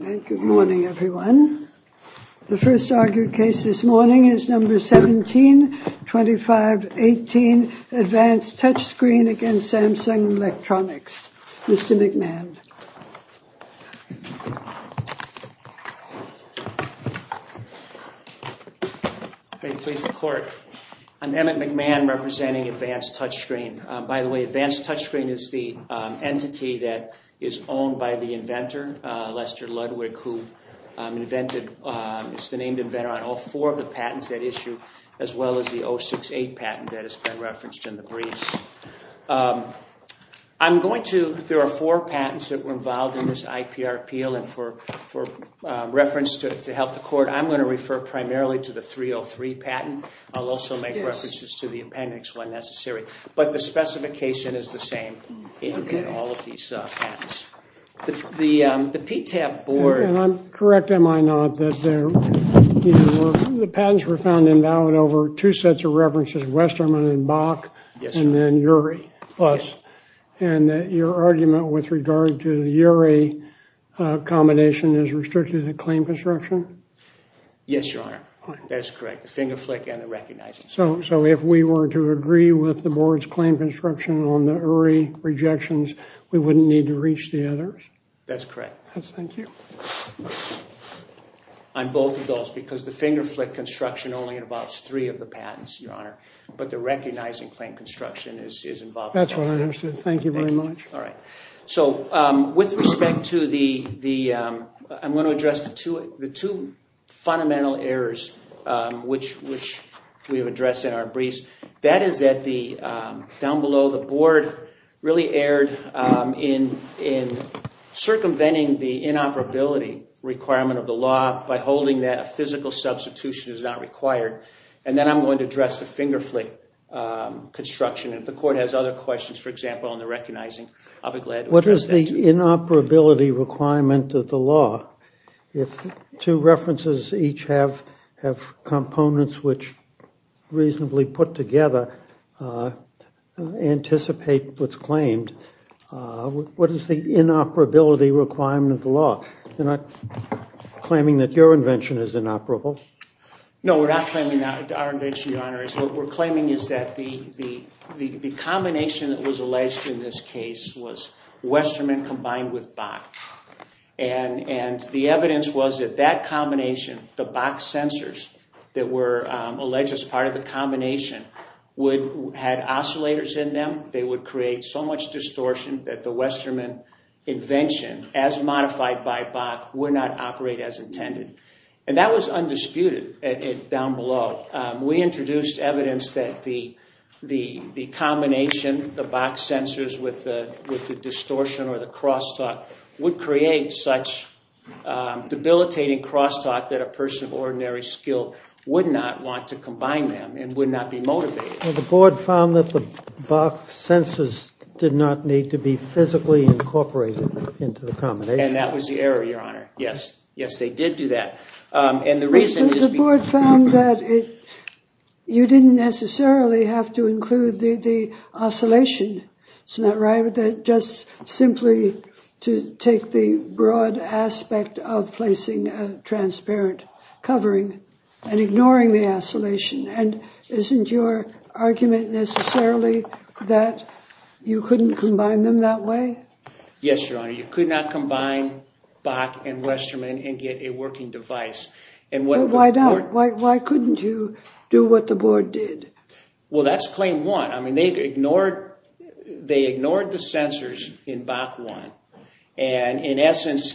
Good morning everyone. The first argued case this morning is number 17-2518 Advanced Touchscreen v. Samsung Electronics. Mr. McMahon. How do you please the court? I'm Emmett McMahon representing Advanced Touchscreen. By the way, Advanced Touchscreen is the entity that is owned by the inventor, Lester Ludwig, who is the named inventor on all four of the patents that issue, as well as the 068 patent that has been referenced in the briefs. There are four patents that were involved in this IPR appeal, and for reference to help the court, I'm going to refer primarily to the 303 patent. I'll also make references to the appendix when necessary, but the specification is the same. The PTAP board... I'm correct, am I not, that the patents were found invalid over two sets of references, Westermann and Bach, and then Urey. And your argument with regard to the Urey combination is restricted to the claim construction? Yes, your honor. That's correct. The finger flick and the recognizing. So if we were to agree with the board's claim construction on the Urey rejections, we wouldn't need to reach the others? That's correct. Thank you. On both of those, because the finger flick construction only involves three of the patents, your honor, but the recognizing claim construction is involved. That's what I understood. Thank you very much. All right. So with respect to the... I'm going to address the two fundamental errors which we have addressed in our briefs. That is that down below, the board really erred in circumventing the inoperability requirement of the law by holding that a physical substitution is not required. And then I'm going to address the finger flick construction. If the court has other questions, for example, on the recognizing, I'll be glad to address that to you. What is the inoperability requirement of the law? If two references each have components which reasonably put together anticipate what's claimed, what is the inoperability requirement of the law? You're not claiming that your invention is inoperable? No, we're not claiming that our invention, your honor. What we're claiming is that the combination that was alleged in this case was Westerman combined with Bach. And the evidence was that that combination, the Bach sensors that were alleged as part of the combination had oscillators in them. They would create so much distortion that the Westerman invention, as modified by Bach, would not operate as intended. And that was undisputed down below. We introduced evidence that the combination, the Bach sensors with the distortion or the crosstalk would create such debilitating crosstalk that a person of ordinary skill would not want to combine them and would not be motivated. The board found that the Bach sensors did not need to be physically incorporated into the combination. And that was the error, your honor. Yes, yes, they did do that. The board found that you didn't necessarily have to include the oscillation. It's not right that just simply to take the broad aspect of placing a transparent covering and ignoring the oscillation. And isn't your argument necessarily that you couldn't combine them that way? Yes, your honor. You could not combine Bach and Westerman and get a working device. Why couldn't you do what the board did? Well, that's claim one. I mean, they ignored the sensors in Bach one. And in essence,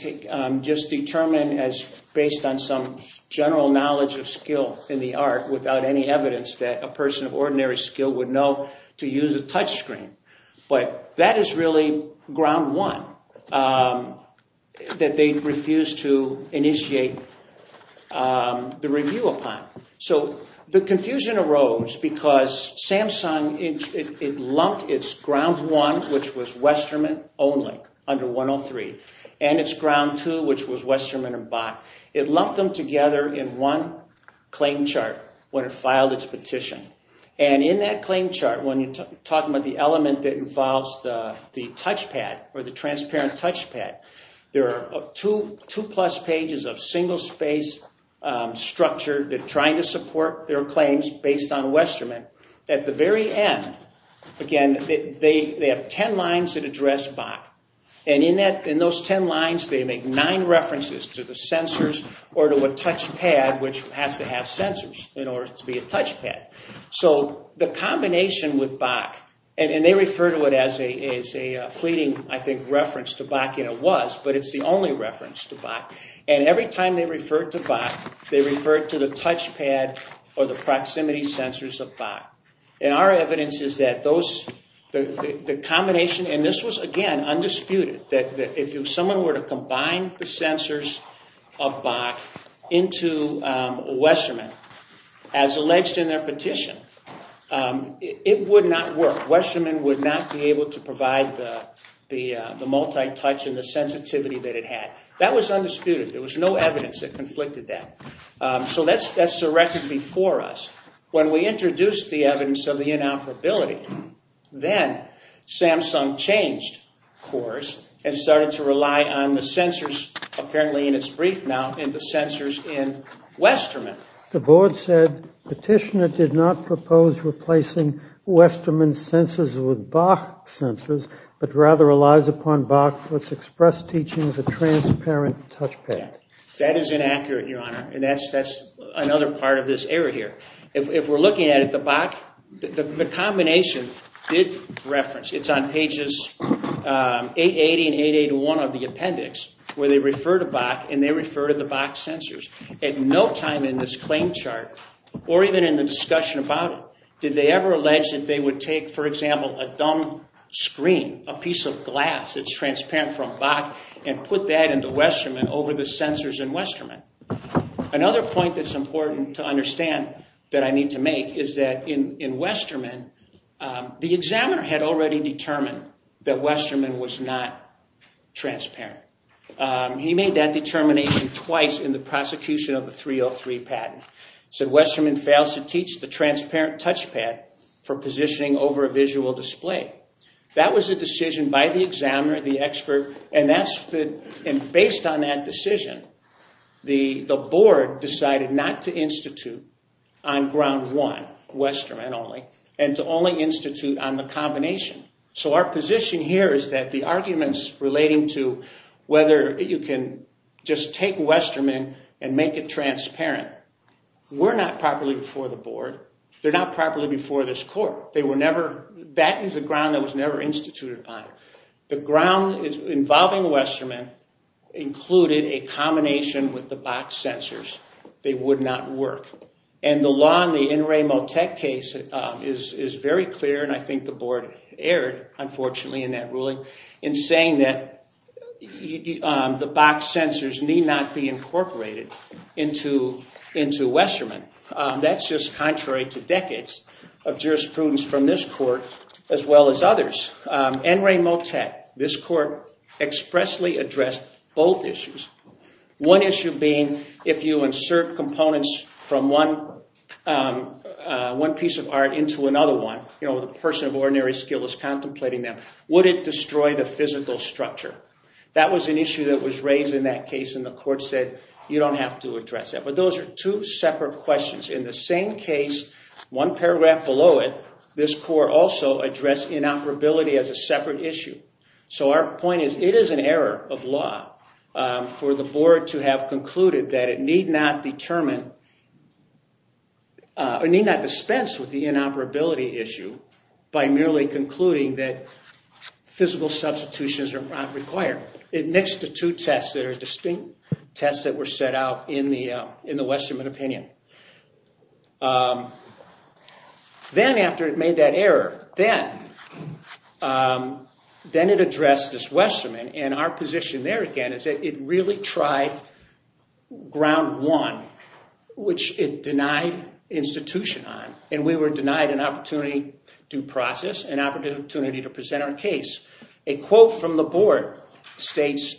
just determined as based on some general knowledge of skill in the art without any evidence that a person of ordinary skill would know to use a touchscreen. But that is really ground one that they refused to initiate the review upon. So the confusion arose because Samsung, it lumped its ground one, which was Westerman only under 103, and its ground two, which was Westerman and Bach. It lumped them together in one claim chart when it filed its touchpad or the transparent touchpad. There are two plus pages of single space structure. They're trying to support their claims based on Westerman. At the very end, again, they have ten lines that address Bach. And in those ten lines, they make nine references to the sensors or to a touchpad, which has to have sensors in order to be a touchpad. So the combination with Bach, and they refer to it as a fleeting, I think, reference to Bach, and it was, but it's the only reference to Bach. And every time they referred to Bach, they referred to the touchpad or the proximity sensors of Bach. And our evidence is that those, the combination, and this was again undisputed, that if someone were to combine the sensors of Bach into Westerman, as alleged in their petition, it would not work. Westerman would not be able to provide the multi-touch and the sensitivity that it had. That was undisputed. There was no evidence that conflicted that. So that's the record before us. When we introduced the evidence of the inoperability, then Samsung changed course and started to rely on the sensors, apparently in its brief now, and the sensors in did not propose replacing Westerman sensors with Bach sensors, but rather relies upon Bach, which expressed teaching as a transparent touchpad. That is inaccurate, Your Honor, and that's another part of this error here. If we're looking at it, the Bach, the combination did reference, it's on pages 880 and 881 of the appendix, where they refer to Bach and they refer to the Bach sensors. At no discussion about it did they ever allege that they would take, for example, a dumb screen, a piece of glass that's transparent from Bach, and put that into Westerman over the sensors in Westerman. Another point that's important to understand that I need to make is that in Westerman, the examiner had already determined that Westerman was not transparent. He made that determination twice in the prosecution of the 303 patent. He said Westerman fails to teach the transparent touchpad for positioning over a visual display. That was a decision by the examiner, the expert, and based on that decision, the board decided not to institute on ground one, Westerman only, and to only institute on the combination. So our position here is that the arguments relating to whether you can just take Westerman and make it transparent, were not properly before the board. They're not properly before this court. They were never, that is a ground that was never instituted upon. The ground involving Westerman included a combination with the Bach sensors. They would not work. And the law in the In Re Motec case is very clear, and I think the board erred, unfortunately, in that Bach sensors need not be incorporated into Westerman. That's just contrary to decades of jurisprudence from this court as well as others. In Re Motec, this court expressly addressed both issues. One issue being if you insert components from one piece of art into another one, you know, the person of ordinary skill is contemplating them, would it destroy the physical structure? That was an issue that was raised in that case, and the court said you don't have to address that. But those are two separate questions. In the same case, one paragraph below it, this court also addressed inoperability as a separate issue. So our point is it is an error of law for the board to have concluded that it need not determine, or need not dispense with the inoperability issue by merely concluding that physical substitutions are not required. It mixed the two tests that are distinct tests that were set out in the in the Westerman opinion. Then after it made that error, then it addressed this Westerman, and our position there again is that it really tried ground one, which it denied institution on, and we were denied an opportunity to process, an opportunity to present our case. A quote from the board states,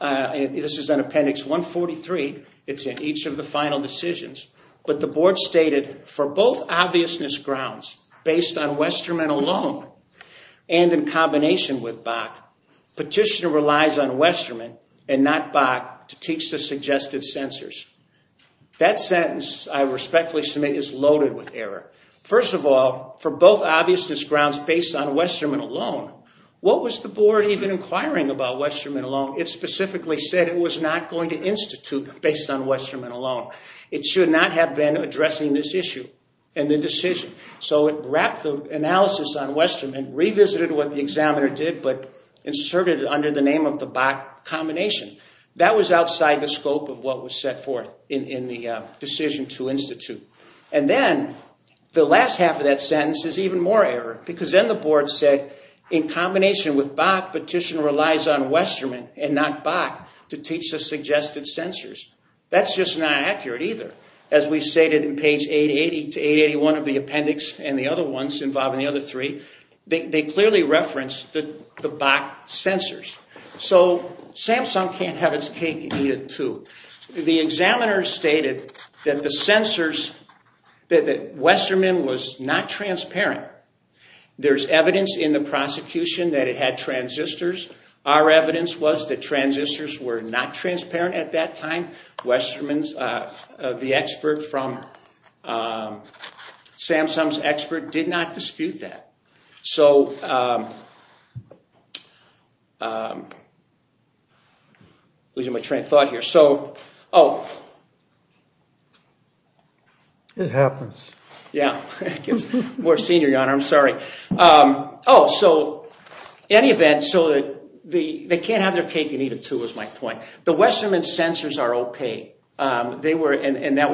this is an appendix 143, it's in each of the final decisions, but the board stated for both obviousness grounds based on Westerman alone, and in combination with Westerman, and not Bach, to teach the suggested censors. That sentence I respectfully submit is loaded with error. First of all, for both obviousness grounds based on Westerman alone, what was the board even inquiring about Westerman alone? It specifically said it was not going to institute based on Westerman alone. It should not have been addressing this issue in the decision. So it wrapped the analysis on Bach combination. That was outside the scope of what was set forth in the decision to institute. And then the last half of that sentence is even more error, because then the board said in combination with Bach, petition relies on Westerman and not Bach to teach the suggested censors. That's just not accurate either. As we stated in page 880 to 881 of the appendix, and the other ones involved in Samsung can't have its cake and eat it too. The examiners stated that the censors, that Westerman was not transparent. There's evidence in the prosecution that it had transistors. Our evidence was that transistors were not transparent at that time. Westerman, the expert from Samsung's can't have their cake and eat it too, is my point. The Westerman censors are okay, and that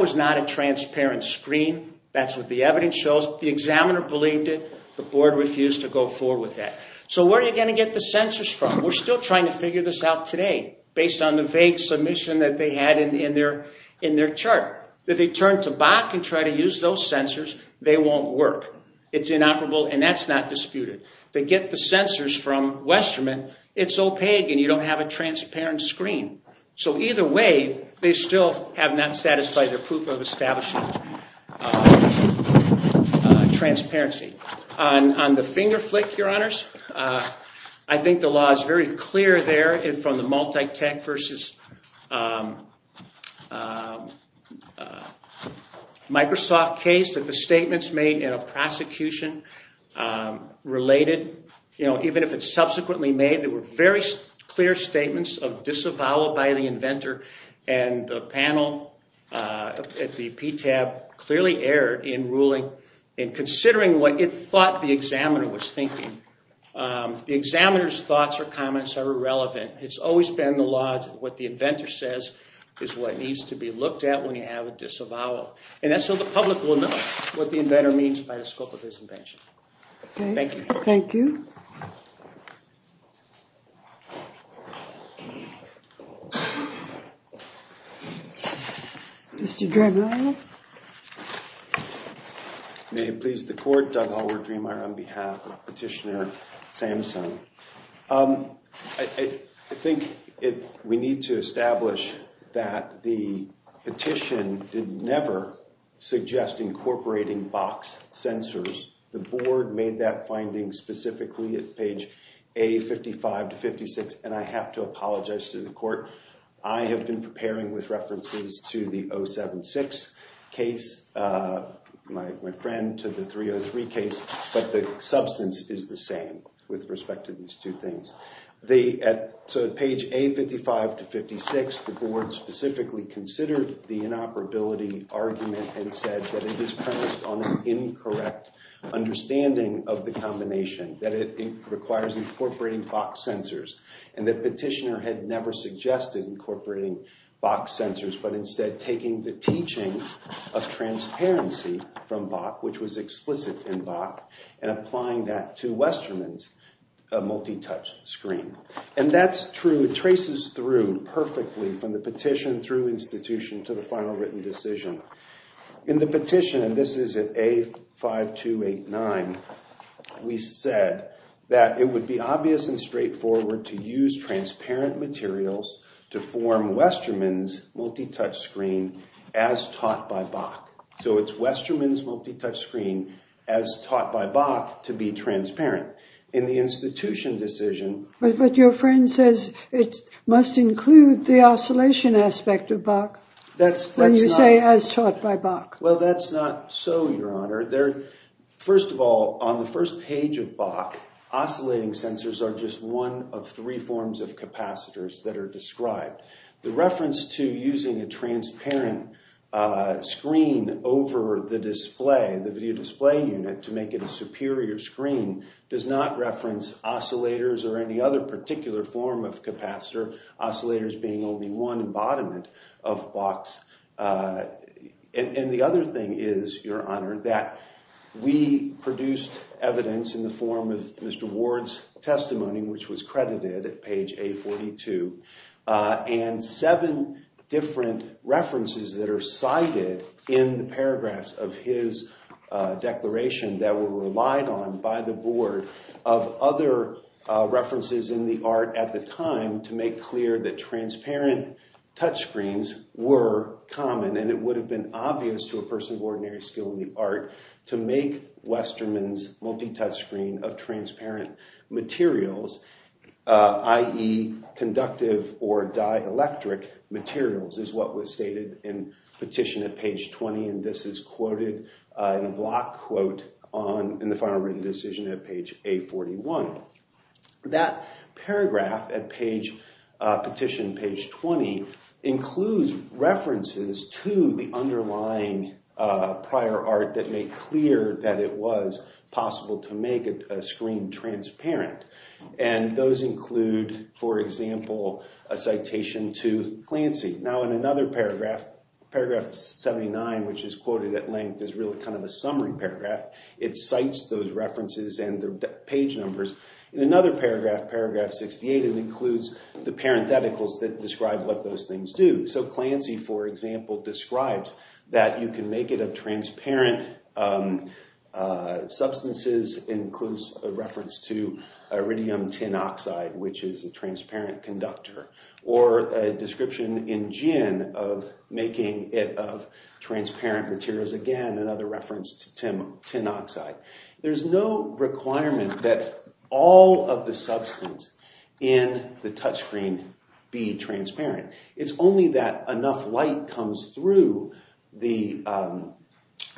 was not a transparent screen. That's what the evidence shows. The examiner believed it. The board refused to go forward with that. So where are you going to get the censors from? We're still trying to figure this out today based on the vague submission that they had in their chart. If they turn to Bach and try to use those censors, they won't work. It's inoperable, and that's not disputed. They get the censors from Westerman. It's opaque, and you don't have a transparent screen. So either way, they still have not satisfied their proof of establishing transparency. On the finger flick, I think the law is very clear there from the multi-tech versus Microsoft case that the statements made in a prosecution related, even if it's subsequently made, there were very clear statements of disavowal by the inventor, and the panel at the PTAB clearly erred in considering what it thought the examiner was thinking. The examiner's thoughts or comments are irrelevant. It's always been the law. What the inventor says is what needs to be looked at when you have a disavowal, and that's so the public will the inventor means by the scope of his invention. Thank you. Thank you. Mr. Drabinow. May it please the Court, Doug Hallward-Dreamer on behalf of Petitioner Samson. I think we need to establish that the petition did never suggest incorporating box censors. The Board made that finding specifically at page A55-56, and I have to apologize to the Court. I have been preparing with references to the 076 case, my friend, to the 303 case, but the substance is the same with respect to these two things. So at page A55-56, the Board specifically considered the inoperability argument and said that it is premised on an incorrect understanding of the combination, that it requires incorporating box censors, and that Petitioner had never suggested incorporating box censors, but instead taking the teaching of transparency from Bach, which was explicit in Bach, and applying that to Westerman's multi-touch screen. And that's true. It traces through perfectly from the petition, through institution, to the final written decision. In the petition, and this is at A5289, we said that it would be obvious and straightforward to use transparent materials to form Westerman's multi-touch screen as taught by Bach. So it's Westerman's multi-touch screen as taught by Bach to be transparent. In the institution decision... But your friend says it must include the oscillation aspect of Bach, when you say as taught by Bach. Well, that's not so, Your Honor. First of all, on the first page of Bach, oscillating censors are just one of three forms of capacitors that are described. The reference to using a transparent screen over the display, the video display unit, to make it a superior screen does not reference oscillators or any other particular form of capacitor, oscillators being only one embodiment of Bach's. And the other thing is, Your Honor, that we produced evidence in the form of Mr. Ward's testimony, which was credited at page A42, and seven different references that are cited in the paragraphs of his declaration that were relied on by the board of other references in the art at the time to make clear that transparent touch screens were common, and it would have been obvious to a person of ordinary skill in the art to make Westerman's multi-touch screen of transparent materials, i.e. conductive or dielectric materials, is what was stated in petition at page 20, and this is quoted in a block quote in the final written decision at page A41. That paragraph at petition page 20 includes references to the underlying prior art that make clear that it was possible to make a screen transparent, and those include, for example, a citation to Clancy. Now, in another paragraph, paragraph 79, which is quoted at length as really kind of a summary paragraph, it cites those references and their page numbers. In another paragraph, paragraph 68, it includes the parentheticals that describe what those things do. So, Clancy, for example, describes that you can make it of transparent substances, includes a reference to iridium tin oxide, which is a transparent conductor, or a description in gin of making it of transparent materials. Again, another reference to tin oxide. There's no requirement that all of the substance in the touchscreen be transparent. It's only that enough light comes through the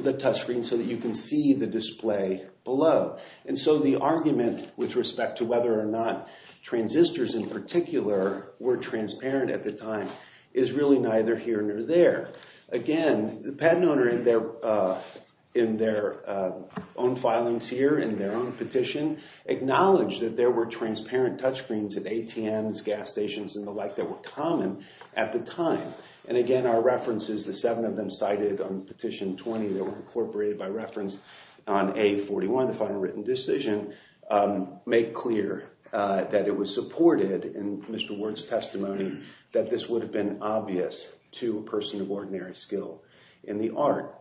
touchscreen so that you can see the display below, and so the argument with respect to whether or not transistors in particular were transparent at the time is really neither here nor there. Again, the patent owner in their own filings here, in their own petition, acknowledged that there were transparent touchscreens at ATMs, gas stations, and the like that were common at the time, and again, our references, the seven of them cited on petition 20 that were incorporated by reference on A41, the final written decision, make clear that it was supported in Mr. Ward's testimony that this would have been obvious to a person of ordinary skill in the art.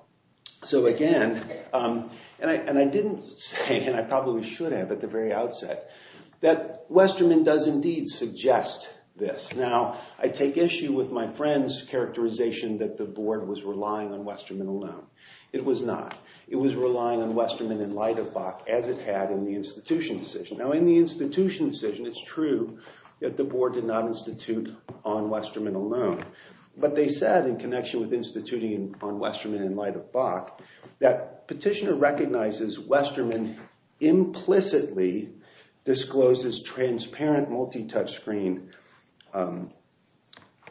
So again, and I didn't say, and I probably should have at the very outset, that Westerman does indeed suggest this. Now, I take issue with my friend's characterization that the board was relying on Westerman alone. It was not. It was relying on Westerman in light of Bach as it had in the institution decision. Now, in the institution decision, it's true that the board did not institute on Westerman alone, but they said in connection with instituting on Westerman in light of Bach that petitioner recognizes Westerman implicitly discloses transparent multi-touch screen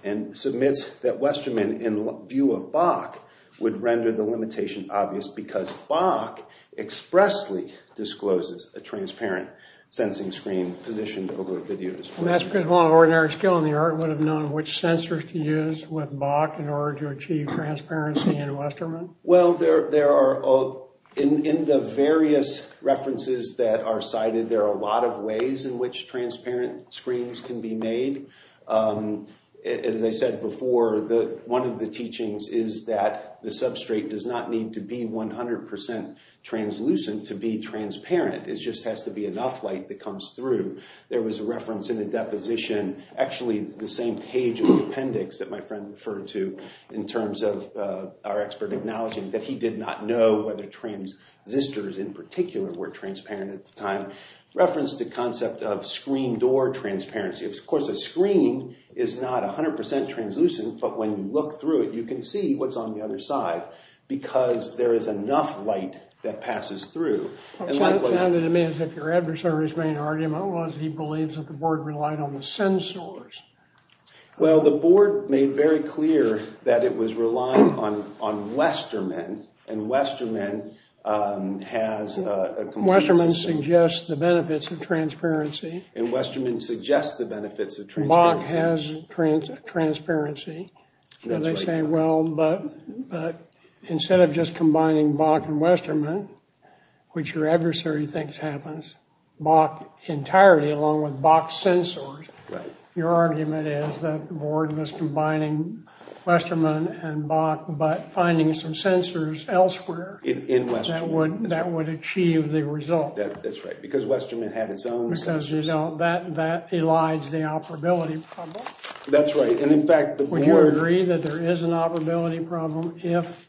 and submits that Westerman in view of Bach would render the limitation obvious because Bach expressly discloses a transparent sensing screen positioned over the video display. And that's because one of ordinary skill in the art would have known which sensors to use with Bach in order to achieve transparency in Westerman? Well, there are, in the various references that are cited, there are a lot of ways in which transparent screens can be made. As I said before, one of the teachings is that the substrate does not need to be 100 percent translucent to be transparent. It just has to be enough light that comes through. There was a reference in the deposition, actually the same page of the appendix that my friend referred to in terms of our expert acknowledging that he did not know whether transistors in particular were transparent at the time, referenced the concept of screen door transparency. Of course, a screen is not 100 percent translucent, but when you look through it, you can see what's on the other side because there is enough light that passes through. It sounded to me as if your adversary's main argument was he believes that the board relied on the sensors. Well, the board made very clear that it was relying on Westerman, and Westerman has... Westerman suggests the benefits of transparency. And Westerman suggests the benefits of transparency. Bach has transparency. They say, well, but instead of just combining Bach and Westerman, which your adversary thinks happens, Bach entirely along with Bach's sensors. Right. Your argument is that the board was combining Westerman and Bach, but finding some sensors elsewhere... In Westerman. That would achieve the result. That's right, because Westerman had its own sensors. Because, you know, that elides the operability problem. That's right, and in fact, would you agree that there is an operability problem if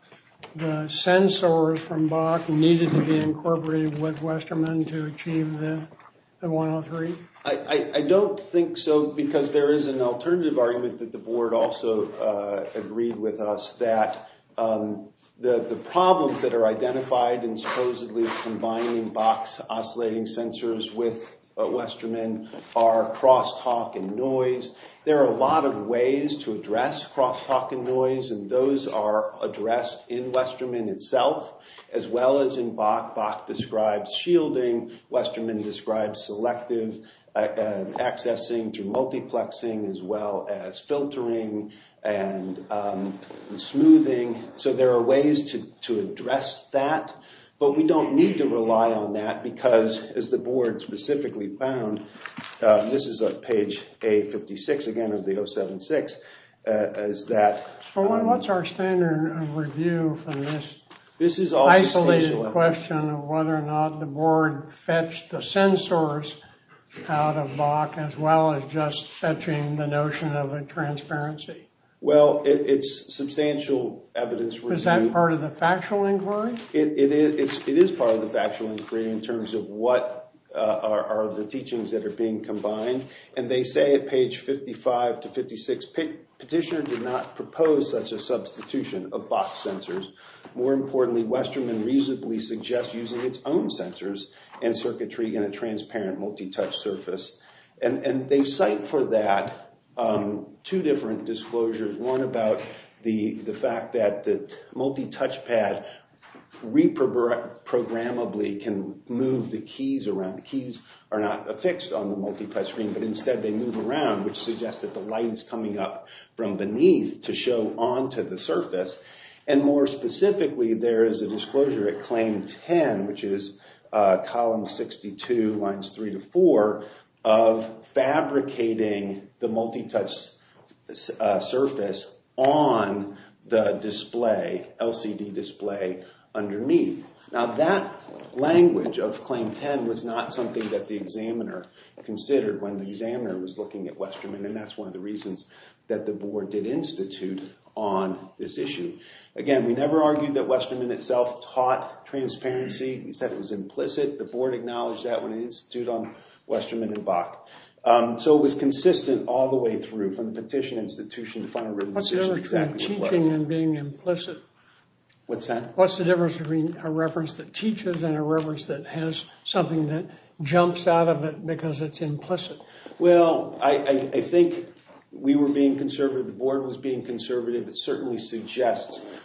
the sensors from Bach needed to be incorporated with Westerman to achieve the 103? I don't think so, because there is an alternative argument that the board also agreed with us that the problems that are identified in supposedly combining Bach's oscillating sensors with Westerman are crosstalk and noise. There are a lot of ways to address crosstalk and noise, and those are addressed in Westerman itself, as well as in Bach. Bach describes shielding. Westerman describes selective accessing through multiplexing, as well as filtering and smoothing. So there are ways to address that, but we don't need to rely on that, because, as the board specifically found, this is on page A56, again, of the 076, is that... So what's our standard of review from this isolated question of whether or not the board fetched the sensors out of Bach, as well as just fetching the notion of a transparency? Well, it's substantial evidence... Is that part of the factual inquiry? It is part of the factual inquiry in terms of what are the teachings that are being combined, and they say at page 55 to 56, Petitioner did not propose such a substitution of Bach sensors. More importantly, Westerman reasonably suggests using its own sensors and circuitry in a transparent multi-touch surface, and they cite for that two different disclosures. One about the fact that multi-touch pad reprogrammably can move the keys around. The keys are not affixed on the multi-touch screen, but instead they move around, which suggests that the light is coming up from beneath to show onto the surface. And more specifically, there is a disclosure at claim 10, which is column 62, lines 3 to 4, of fabricating the multi-touch surface on the LCD display underneath. Now, that language of claim 10 was not something that the examiner considered when the examiner was looking at Westerman, and that's one of the reasons that the board did institute on this issue. Again, we never argued that Westerman itself taught transparency. We said it was implicit. The board acknowledged that when it instituted on Westerman and Bach. So it was consistent all the way through, from the petition institution to final written decision. What's the difference between teaching and being implicit? What's that? What's the difference between a reference that teaches and a reference that has something that jumps out of it because it's implicit? Well, I think we were being conservative. The board was being conservative.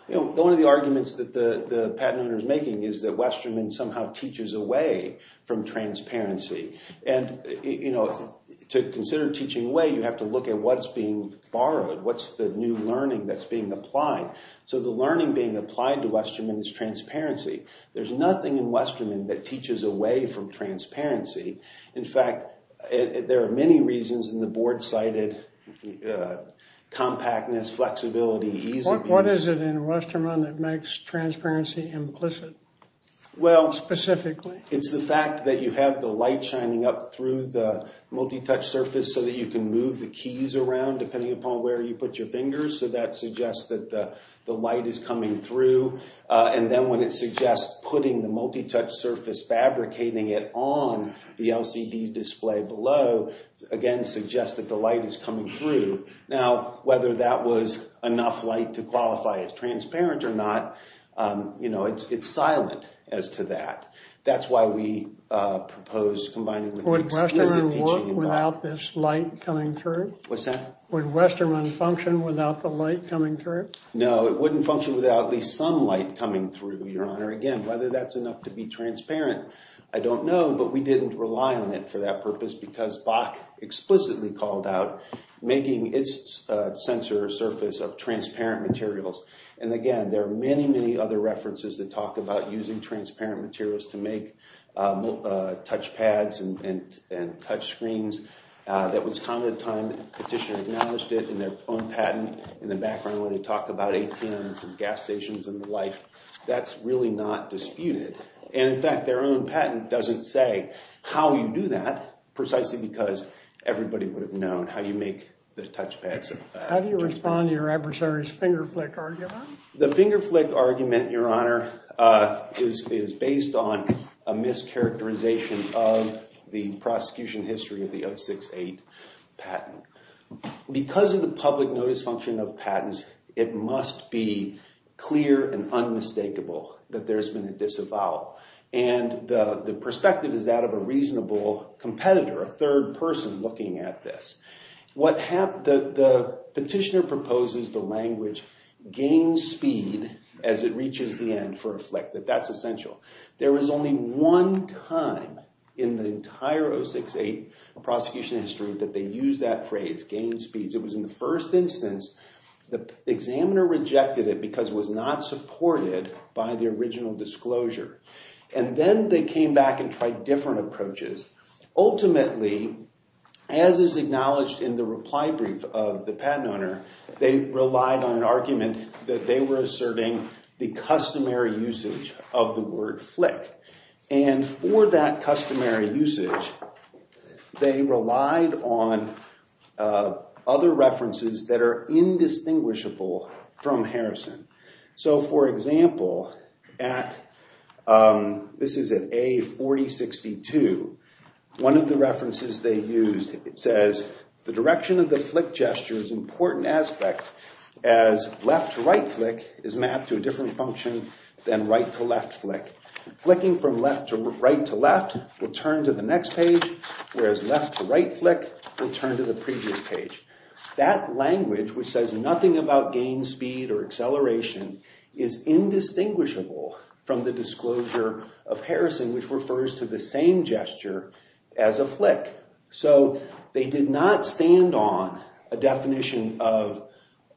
One of the arguments that the patent owner is making is that Westerman somehow teaches away from transparency. To consider teaching away, you have to look at what's being borrowed. What's the new learning that's being applied? So the learning being applied to Westerman is transparency. There's nothing in Westerman that teaches away from flexibility. What is it in Westerman that makes transparency implicit? Well, specifically, it's the fact that you have the light shining up through the multi-touch surface so that you can move the keys around depending upon where you put your fingers. So that suggests that the light is coming through. And then when it suggests putting the multi-touch surface, fabricating it on the LCD display below, again suggests that the light is coming through. Now, whether that was enough light to qualify as transparent or not, you know, it's silent as to that. That's why we propose combining implicit teaching. Would Westerman work without this light coming through? What's that? Would Westerman function without the light coming through? No, it wouldn't function without at least some light coming through, Your Honor. Again, whether that's enough to be transparent, I don't know. But we didn't rely on it for that purpose because Bach explicitly called out making its sensor a surface of transparent materials. And again, there are many, many other references that talk about using transparent materials to make touchpads and touchscreens. That was common at the time the petitioner acknowledged it in their own patent in the background where they talk about ATMs and gas stations and the like. That's really not disputed. And in fact, their own patent doesn't say how you do that precisely because everybody would have known how you make the touchpads. How do you respond to your adversary's finger flick argument? The finger flick argument, Your Honor, is based on a mischaracterization of the prosecution history of the 068 patent. Because of the public notice function of patents, it must be clear and unmistakable that there's been a disavowal. And the perspective is that a reasonable competitor, a third person looking at this. The petitioner proposes the language gain speed as it reaches the end for a flick, that that's essential. There was only one time in the entire 068 prosecution history that they used that phrase, gain speeds. It was in the first instance. The examiner rejected it because it was not supported by the original disclosure. And then they came back and tried different approaches. Ultimately, as is acknowledged in the reply brief of the patent owner, they relied on an argument that they were asserting the customary usage of the word flick. And for that customary usage, they relied on other references that are indistinguishable from Harrison. So, for example, at, this is at A4062, one of the references they used, it says, the direction of the flick gesture is an important aspect as left to right flick is mapped to a different function than left to right flick. Flicking from left to right to left will turn to the next page, whereas left to right flick will turn to the previous page. That language, which says nothing about gain speed or acceleration, is indistinguishable from the disclosure of Harrison, which refers to the same gesture as a flick. So, they did not stand on a definition of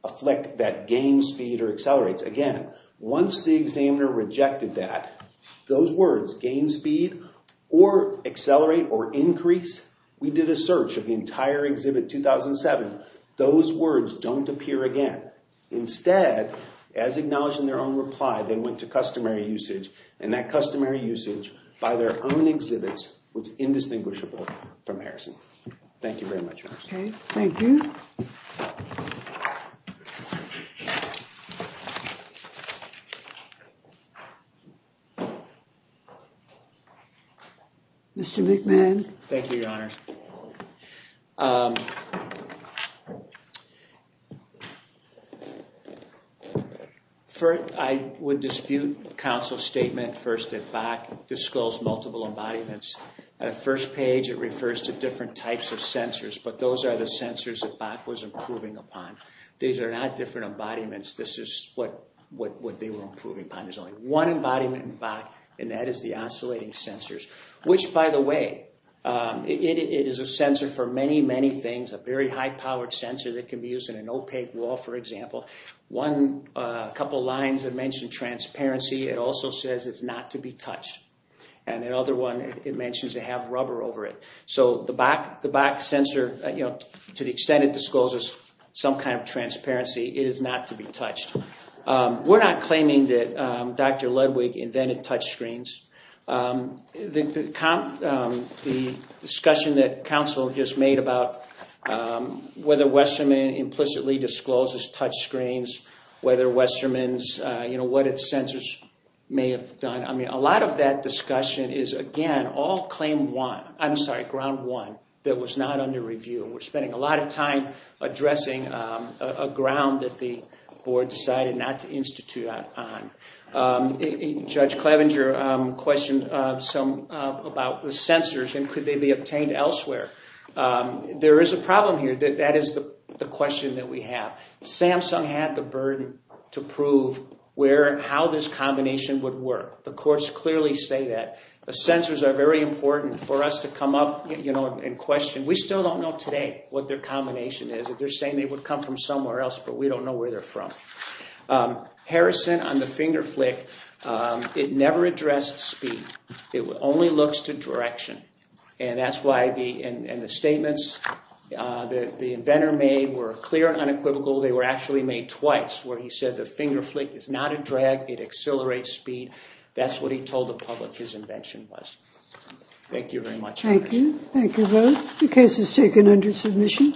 a flick that gains speed or accelerates. Again, once the examiner rejected that, those words, gain speed or accelerate or increase, we did a search of the entire exhibit 2007. Those words don't appear again. Instead, as acknowledged in their own reply, they went to customary usage and that customary usage by their own exhibits was indistinguishable from Harrison. Thank you very much. Okay, thank you. Mr. McMahon. Thank you, Your Honor. I would dispute counsel's statement first at back, disclose multiple embodiments. At the first page, it refers to different types of sensors, but those are the sensors that Bach was improving upon. These are not different embodiments. This is what they were improving upon. There's only one embodiment in Bach and that is the oscillating sensors, which, by the way, it is a sensor for many, many things, a very high-powered sensor that can be used in an opaque wall, for example. A couple lines that mention transparency, it also says it's not to be touched. And the other one, it mentions they have rubber over it. So the Bach sensor, to the extent it discloses some kind of transparency, it is not to be touched. We're not claiming that Dr. Ludwig invented touchscreens. The discussion that counsel just made about whether Westermann implicitly discloses touchscreens, whether Westermann's, you know, what its sensors may have done, I mean, a lot of that discussion is, again, all claim one, I'm sorry, ground one, that was not under review. We're spending a lot of time addressing a ground that the board decided not to institute that on. Judge Clevenger questioned some about the sensors and could they be obtained elsewhere. There is a problem here. That is the question that we have. Samsung had the burden to prove how this combination would work. The courts clearly say that. The sensors are very important for us to come up, you know, and question. We still don't know today what their combination is. They're saying they would come from somewhere else, but we don't know where they're from. Harrison, on the finger flick, it never addressed speed. It only looks to direction, and that's why the statements that the inventor made were clear and unequivocal. They were actually made twice, where he said the finger flick is not a drag, it accelerates speed. That's what he told the public his invention was. Thank you very much. Thank you. Thank you both. The case is taken under submission.